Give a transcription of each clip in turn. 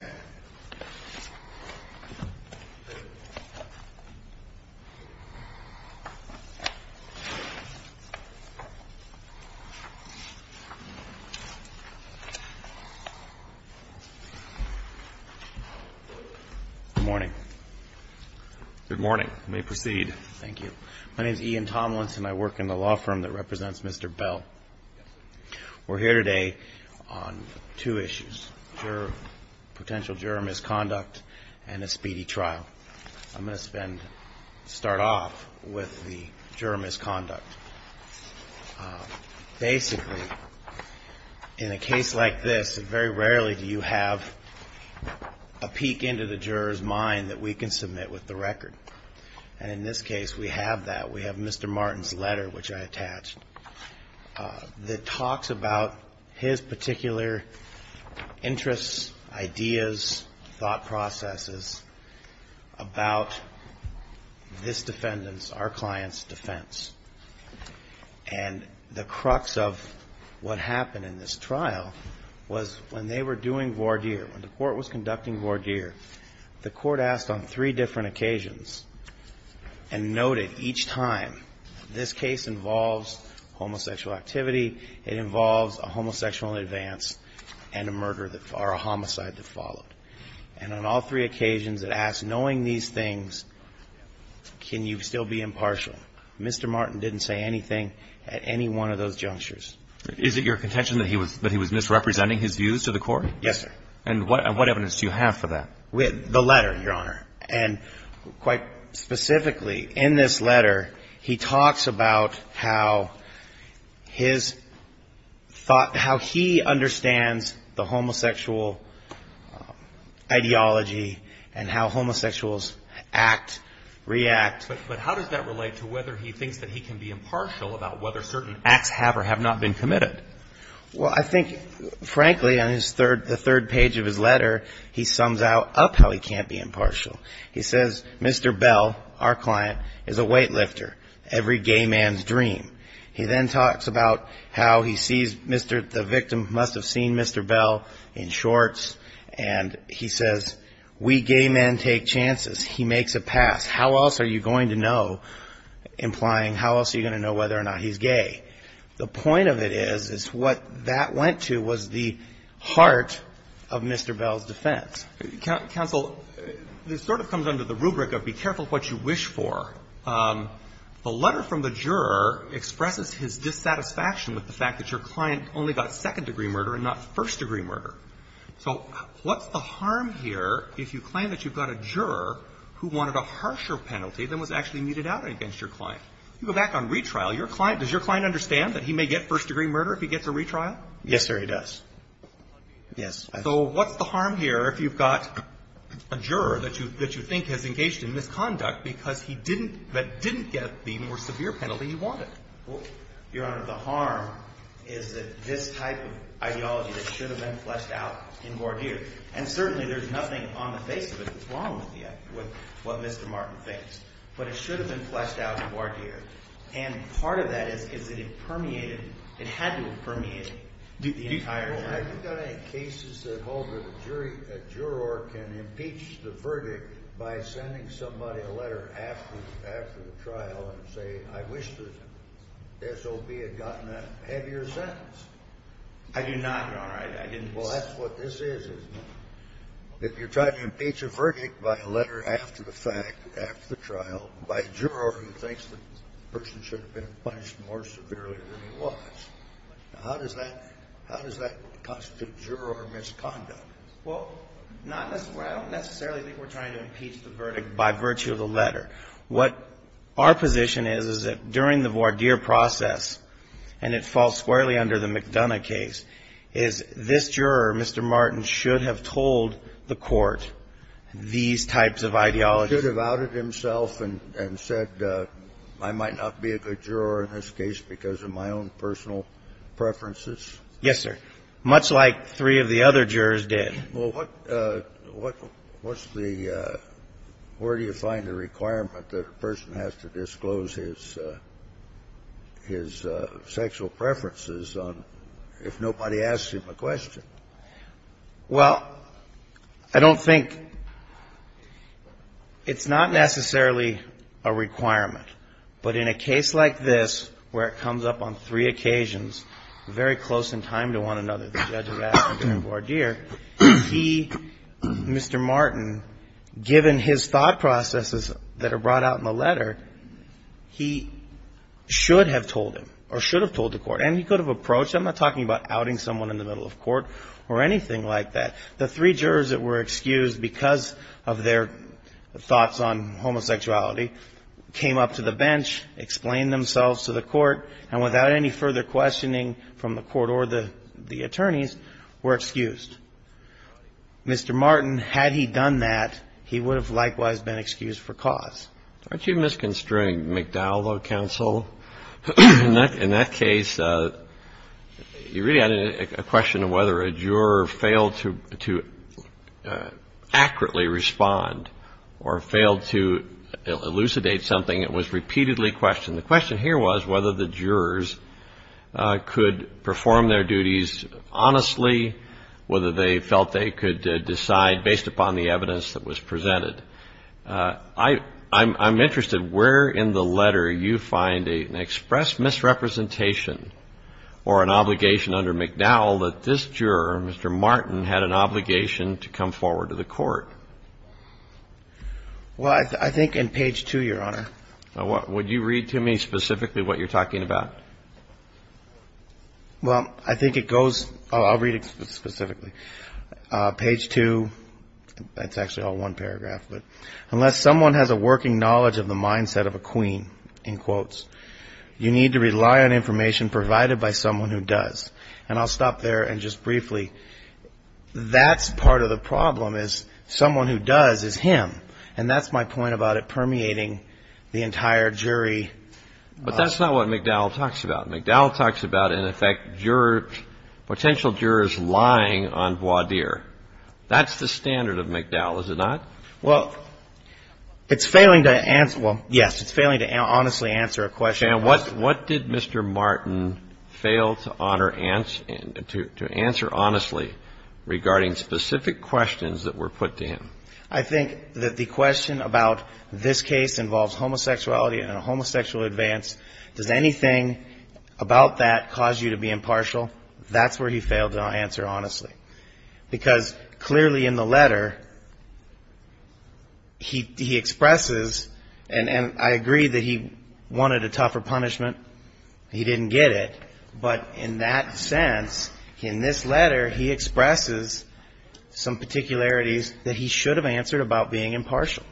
Good morning. My name is Ian Tomlinson. I work in the law firm that represents Mr. Bell. We're here today on two issues. First, potential juror misconduct and a speedy trial. I'm going to start off with the juror misconduct. Basically, in a case like this, very rarely do you have a peek into the juror's mind that we can submit with the record. And in this case, we have that. We have Mr. Martin's letter, which I attached, that talks about his particular interests, ideas, thought processes about this defendant's, our client's, defense. And the crux of what happened in this trial was when they were doing voir dire, when the Court was conducting voir dire, the Court asked on three different occasions and noted each time, this case involves homosexual activity, it involves a homosexual advance and a murder or a homicide that followed. And on all three occasions it asked, knowing these things, can you still be impartial? Mr. Martin didn't say anything at any one of those junctures. Is it your contention that he was misrepresenting his views to the Court? Yes, sir. And what evidence do you have for that? The letter, Your Honor. And quite specifically, in this letter, he talks about how his thought, how he understands the homosexual ideology and how homosexuals act, react. But how does that relate to whether he thinks that he can be impartial about whether certain acts have or have not been committed? Well, I think, frankly, on his third, the third page of his letter, he sums up how he can't be impartial. He says, Mr. Bell, our client, is a weightlifter, every gay man's dream. He then talks about how he sees Mr., the victim must have seen Mr. Bell in shorts, and he says, we gay men take chances. He makes a pass. How else are you going to know, implying how else are you going to know whether or not he's gay? The point of it is, is what that went to was the heart of Mr. Bell's defense. Counsel, this sort of comes under the rubric of be careful what you wish for. The letter from the juror expresses his dissatisfaction with the fact that your client only got second-degree murder and not first-degree murder. So what's the harm here if you claim that you've got a juror who wanted a harsher penalty than was actually meted out against your client? You go back on retrial. Does your client understand that he may get first-degree murder if he gets a retrial? Yes, sir, he does. Yes. So what's the harm here if you've got a juror that you think has engaged in misconduct because he didn't get the more severe penalty he wanted? Well, Your Honor, the harm is that this type of ideology that should have been fleshed out in Gordier, and certainly there's nothing on the face of it that's wrong with what Mr. Martin thinks. But it should have been fleshed out in Gordier. And part of that is, is that it permeated, it had to have permeated the entire trial. Well, have you got any cases that hold that a jury, a juror can impeach the verdict by sending somebody a letter after the trial and say, I wish the SOB had gotten a heavier sentence? I do not, Your Honor. I didn't say that. Well, that's what this is, isn't it? If you're trying to impeach a verdict by a letter after the fact, after the trial, by a juror who thinks the person should have been punished more severely than he was. Now, how does that constitute juror misconduct? Well, not necessarily. I don't necessarily think we're trying to impeach the verdict by virtue of the letter. What our position is, is that during the Gordier process, and it falls squarely under the McDonough case, is this juror, Mr. Martin, should have told the Court these types of ideologies. He should have outed himself and said I might not be a good juror in this case because of my own personal preferences? Yes, sir. Much like three of the other jurors did. Well, what's the – where do you find the requirement that a person has to disclose his – his sexual preferences on – if nobody asks him a question? Well, I don't think – it's not necessarily a requirement. But in a case like this where it comes up on three occasions, very close in time to one another, the judge has asked for the Gordier, he – Mr. Martin, given his thought processes that are brought out in the letter, he should have told him or should have told the Court. And he could have approached – I'm not talking about outing someone in the middle of court or anything like that. The three jurors that were excused because of their thoughts on homosexuality came up to the bench, explained themselves to the Court, and without any further questioning from the Court or the attorneys were excused. Mr. Martin, had he done that, he would have likewise been excused for cause. Aren't you misconstruing McDowell, though, counsel? In that case, you really had a question of whether a juror failed to accurately respond or failed to elucidate something. It was repeatedly questioned. And the question here was whether the jurors could perform their duties honestly, whether they felt they could decide based upon the evidence that was presented. I'm interested where in the letter you find an express misrepresentation or an obligation under McDowell that this juror, Mr. Martin, had an obligation to come forward to the Court. Well, I think in page two, Your Honor. Would you read to me specifically what you're talking about? Well, I think it goes, I'll read it specifically. Page two, that's actually all one paragraph. But unless someone has a working knowledge of the mindset of a queen, in quotes, you need to rely on information provided by someone who does. And I'll stop there and just briefly, that's part of the problem is someone who does is him. And that's my point about it permeating the entire jury. But that's not what McDowell talks about. McDowell talks about, in effect, jurors, potential jurors lying on voir dire. That's the standard of McDowell, is it not? Well, it's failing to answer, well, yes, it's failing to honestly answer a question. And what did Mr. Martin fail to answer honestly regarding specific questions that were put to him? I think that the question about this case involves homosexuality and a homosexual advance. Does anything about that cause you to be impartial? That's where he failed to answer honestly. Because clearly in the letter, he expresses, and I agree that he wanted a tougher punishment. He didn't get it. But in that sense, in this letter, he expresses some particularities that he should have answered about being impartial.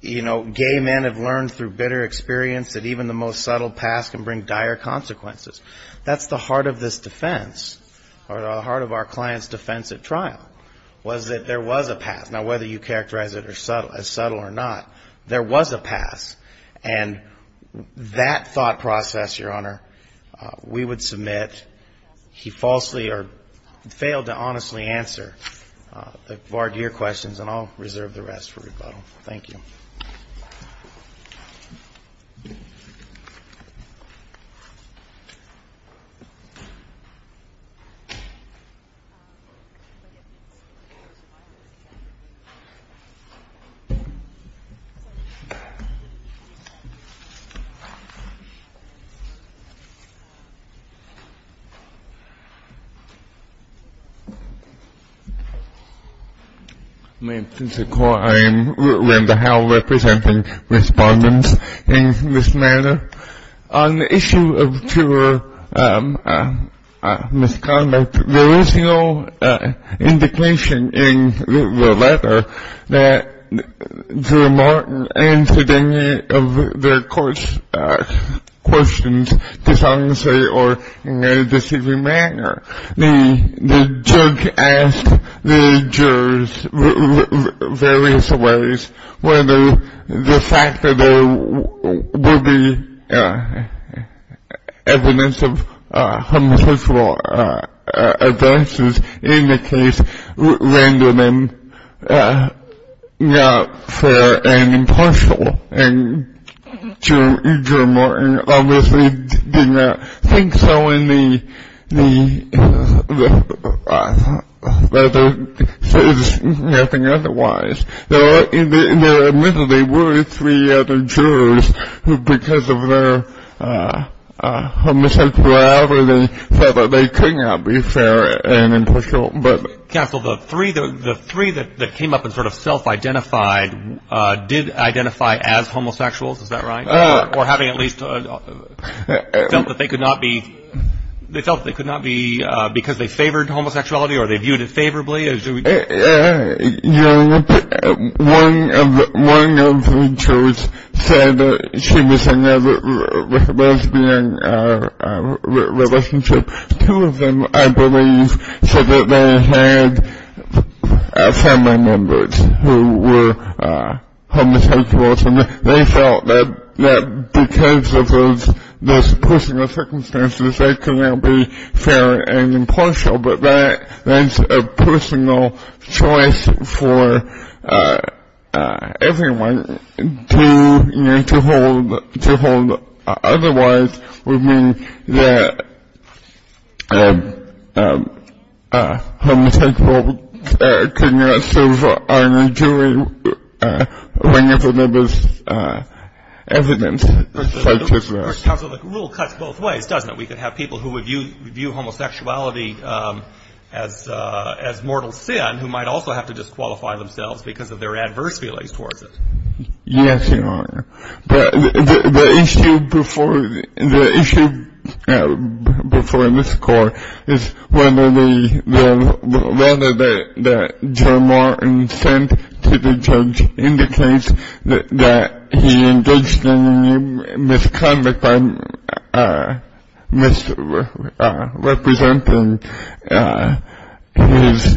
You know, gay men have learned through bitter experience that even the most subtle past can bring dire consequences. That's the heart of this defense, or the heart of our client's defense at trial, was that there was a past. Now, whether you characterize it as subtle or not, there was a past. And that thought process, Your Honor, we would submit he falsely or failed to honestly answer. I'll forward to your questions, and I'll reserve the rest for rebuttal. Thank you. Thank you. Respondents in this matter. On the issue of true or misconduct, there is no indication in the letter that Jury Martin answered any of their court's questions dishonestly or in a deceiving manner. The judge asked the jurors various ways whether the fact that there would be evidence of homosexual advances in the case rendered them not fair and impartial. And Jury Martin obviously did not think so, and the letter says nothing otherwise. In the letter, there were three other jurors who, because of their homosexuality, felt that they could not be fair and impartial. Counsel, the three that came up and sort of self-identified did identify as homosexuals, is that right? Or having at least felt that they could not be because they favored homosexuality or they viewed it favorably? Your Honor, one of the jurors said that she was in a lesbian relationship. Two of them, I believe, said that they had family members who were homosexuals, and they felt that because of those personal circumstances they could not be fair and impartial. But that's a personal choice for everyone to hold. Otherwise, it would mean that homosexuals could not serve on a jury whenever there was evidence such as that. Counsel, the rule cuts both ways, doesn't it? We could have people who view homosexuality as mortal sin who might also have to disqualify themselves because of their adverse feelings towards it. Yes, Your Honor. The issue before this court is whether the letter that Joe Martin sent to the judge indicates that he engaged in a misconduct by misrepresenting his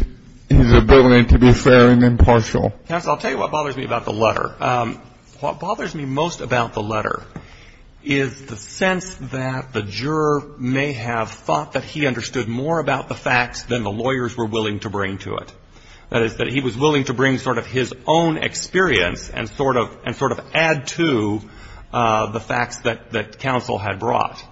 ability to be fair and impartial. Counsel, I'll tell you what bothers me about the letter. What bothers me most about the letter is the sense that the juror may have thought that he understood more about the facts than the lawyers were willing to bring to it. That is, that he was willing to bring sort of his own experience and sort of add to the facts that counsel had brought.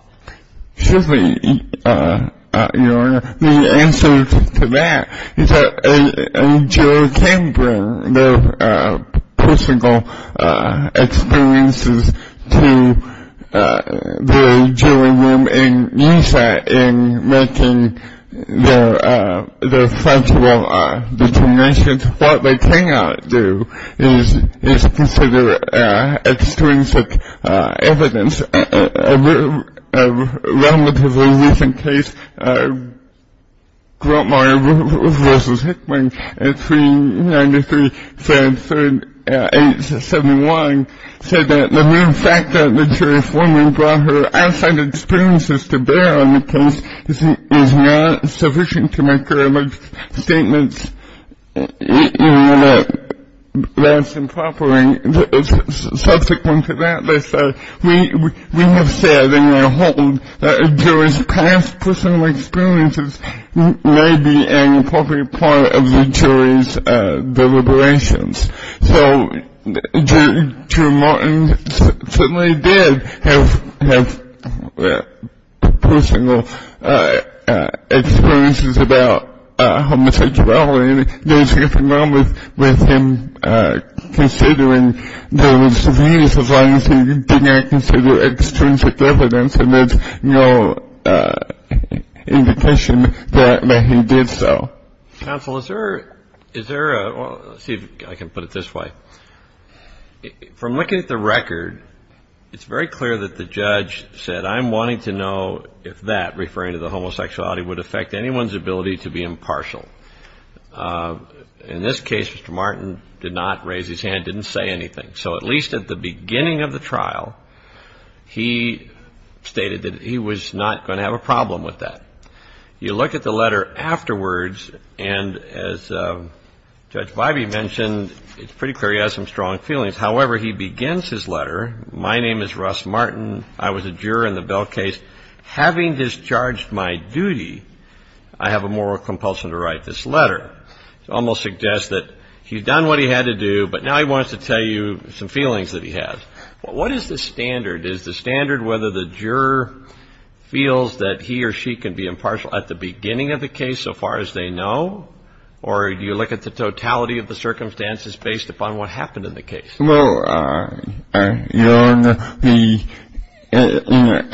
Certainly, Your Honor. The answer to that is that a juror can bring their personal experiences to the jury room and use that in making their factual determinations. What they cannot do is consider extrinsic evidence. A relatively recent case, Grotemeyer v. Hickman, 393-3871, said that the mere fact that the jury formally brought her outside experiences to bear on the case is not sufficient to make her alleged statements less improper. Subsequent to that, they said, we have said in our hold that a juror's past personal experiences may be an appropriate part of the jury's deliberations. So, Drew Martin certainly did have personal experiences about homosexuality. There was nothing wrong with him considering those views as long as he did not consider extrinsic evidence. And there's no indication that he did so. So, counsel, is there a – let's see if I can put it this way. From looking at the record, it's very clear that the judge said, I'm wanting to know if that, referring to the homosexuality, would affect anyone's ability to be impartial. In this case, Mr. Martin did not raise his hand, didn't say anything. So at least at the beginning of the trial, he stated that he was not going to have a problem with that. You look at the letter afterwards, and as Judge Vibey mentioned, it's pretty clear he has some strong feelings. However, he begins his letter, my name is Russ Martin. I was a juror in the Bell case. Having discharged my duty, I have a moral compulsion to write this letter. It almost suggests that he's done what he had to do, but now he wants to tell you some feelings that he has. What is the standard? Is the standard whether the juror feels that he or she can be impartial at the beginning of the case, so far as they know? Or do you look at the totality of the circumstances based upon what happened in the case? Well, Your Honor,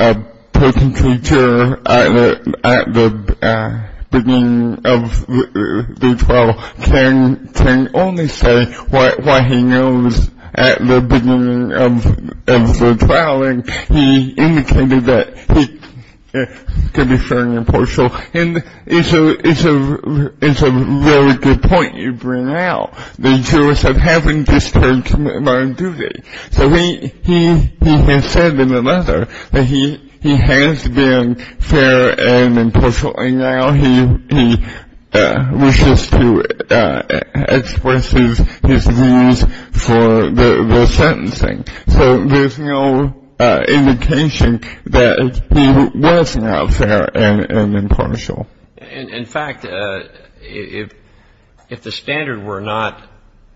a potential juror at the beginning of the trial can only say what he knows at the beginning of the trial, and he indicated that he could be fairly impartial, and it's a very good point you bring out. The jurors have having discharged my duty. So he has said in the letter that he has been fair and impartial, and now he wishes to express his views for the sentencing. So there's no indication that he was not fair and impartial. In fact, if the standard were not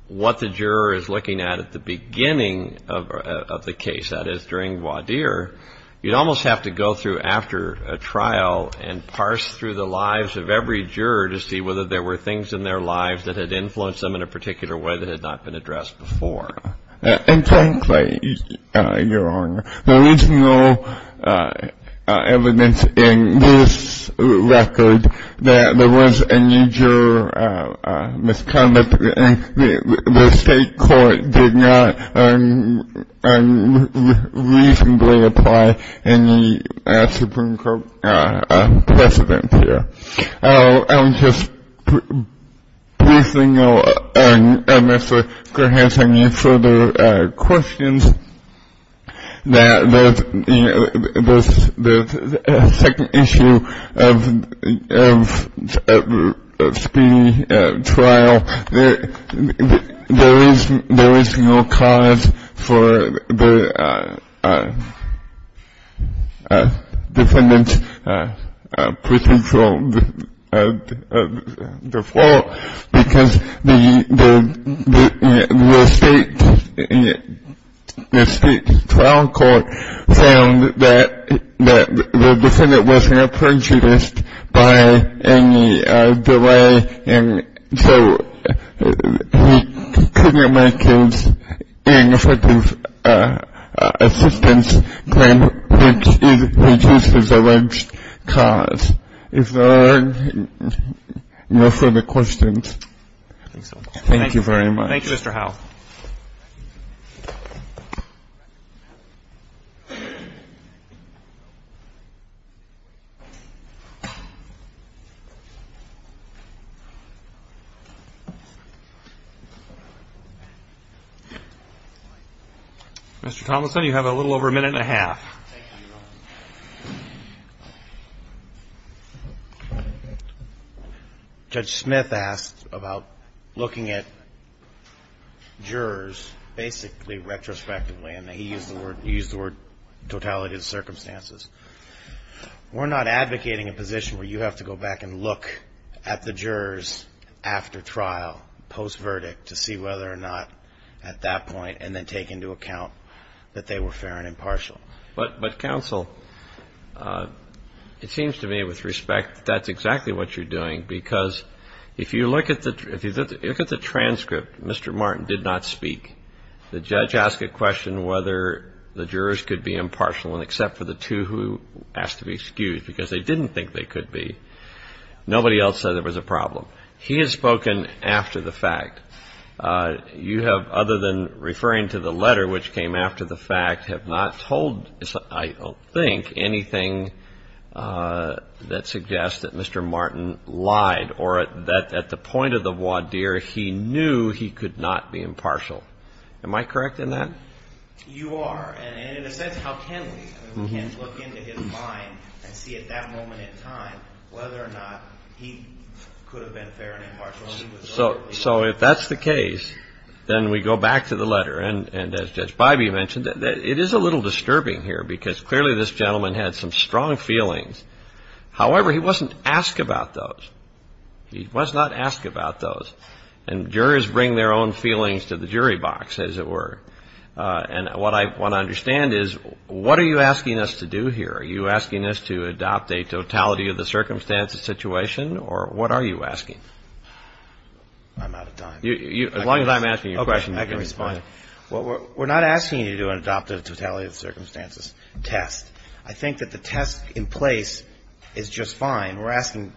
what the juror is looking at at the beginning of the case, that is, during voir dire, you'd almost have to go through after a trial and parse through the lives of every juror to see whether there were things in their lives that had influenced them in a particular way that had not been addressed before. And frankly, Your Honor, there is no evidence in this record that there was any juror misconduct, and the state court did not unreasonably apply any Supreme Court precedence here. I would just briefly note, unless the court has any further questions, that the second issue of speeding trial, there is no cause for the defendant's procedural default because the state trial court found that the defendant was not prejudiced by any delay, and so he could not make his ineffective assistance claim which is prejudiced as a large cause. If there are no further questions. Thank you very much. Thank you, Mr. Howell. Mr. Tomlinson, you have a little over a minute and a half. Thank you, Your Honor. Judge Smith asked about looking at jurors basically retrospectively, and he used the word totality of circumstances. We're not advocating a position where you have to go back and look at the jurors after trial, post-verdict, to see whether or not at that point and then take into account that they were fair and impartial. But counsel, it seems to me with respect that that's exactly what you're doing because if you look at the transcript, Mr. Martin did not speak. The judge asked a question whether the jurors could be impartial, and except for the two who asked to be excused because they didn't think they could be, nobody else said there was a problem. He has spoken after the fact. You have, other than referring to the letter which came after the fact, have not told, I don't think, anything that suggests that Mr. Martin lied or that at the point of the voir dire he knew he could not be impartial. Am I correct in that? You are, and in a sense, how can we? We can look into his mind and see at that moment in time whether or not he could have been fair and impartial. So if that's the case, then we go back to the letter. And as Judge Bybee mentioned, it is a little disturbing here because clearly this gentleman had some strong feelings. However, he wasn't asked about those. He was not asked about those. And jurors bring their own feelings to the jury box, as it were. And what I want to understand is what are you asking us to do here? Are you asking us to adopt a totality of the circumstances situation? Or what are you asking? I'm out of time. As long as I'm asking you a question, you can respond. I can respond. We're not asking you to adopt a totality of the circumstances test. I think that the test in place is just fine. We're asking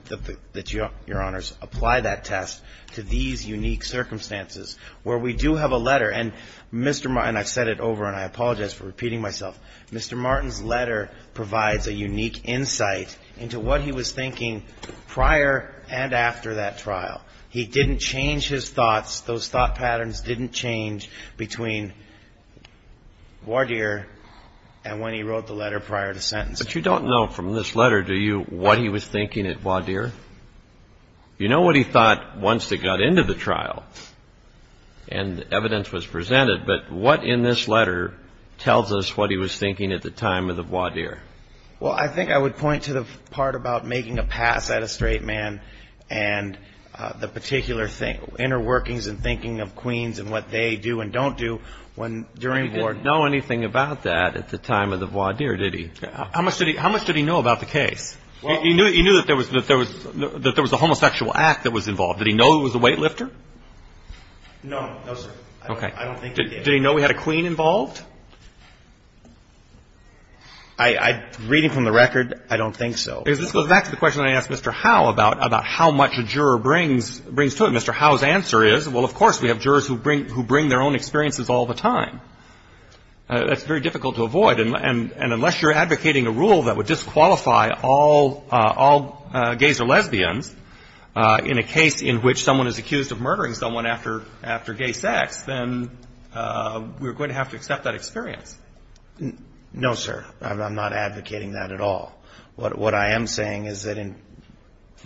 that Your Honors apply that test to these unique circumstances where we do have a letter. And Mr. Martin, I've said it over and I apologize for repeating myself. Mr. Martin's letter provides a unique insight into what he was thinking prior and after that trial. He didn't change his thoughts. Those thought patterns didn't change between Wadeer and when he wrote the letter prior to sentence. But you don't know from this letter, do you, what he was thinking at Wadeer? You know what he thought once it got into the trial and evidence was presented, but what in this letter tells us what he was thinking at the time of the Wadeer? Well, I think I would point to the part about making a pass at a straight man and the particular thing, inner workings and thinking of Queens and what they do and don't do when during Warden. He didn't know anything about that at the time of the Wadeer, did he? How much did he know about the case? He knew that there was a homosexual act that was involved. Did he know it was a weightlifter? No, no, sir. Okay. I don't think he did. Did he know we had a queen involved? Reading from the record, I don't think so. This goes back to the question I asked Mr. Howe about how much a juror brings to it. Mr. Howe's answer is, well, of course, we have jurors who bring their own experiences all the time. That's very difficult to avoid. And unless you're advocating a rule that would disqualify all gays or lesbians in a case in which someone is accused of murdering someone after gay sex, then we're going to have to accept that experience. No, sir. I'm not advocating that at all. What I am saying is that in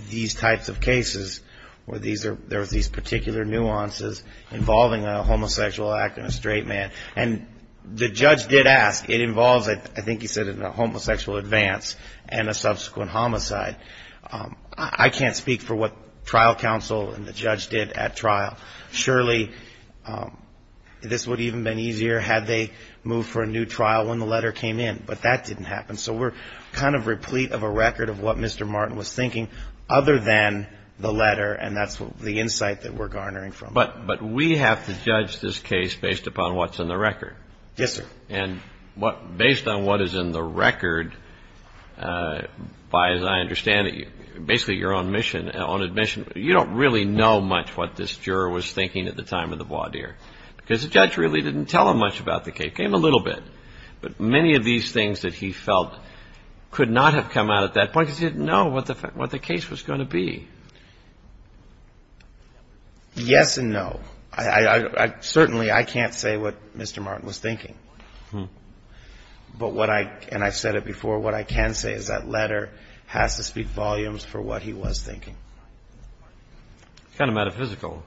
these types of cases where there are these particular nuances involving a homosexual act and a straight man, and the judge did ask. It involves, I think he said, a homosexual advance and a subsequent homicide. I can't speak for what trial counsel and the judge did at trial. Surely this would have even been easier had they moved for a new trial when the letter came in. But that didn't happen. So we're kind of replete of a record of what Mr. Martin was thinking other than the letter, and that's the insight that we're garnering from it. But we have to judge this case based upon what's in the record. Yes, sir. And based on what is in the record, by as I understand it, basically your own admission, you don't really know much what this juror was thinking at the time of the voir dire. Because the judge really didn't tell him much about the case, came a little bit. But many of these things that he felt could not have come out at that point because he didn't know what the case was going to be. Yes and no. Certainly I can't say what Mr. Martin was thinking. But what I, and I've said it before, what I can say is that letter has to speak volumes for what he was thinking. Kind of metaphysical.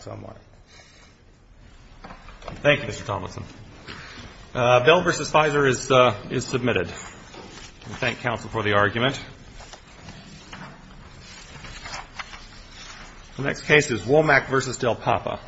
Somewhat. Thank you, Mr. Thomason. Bell v. Fizer is submitted. Thank counsel for the argument. The next case is Womack v. Del Papa.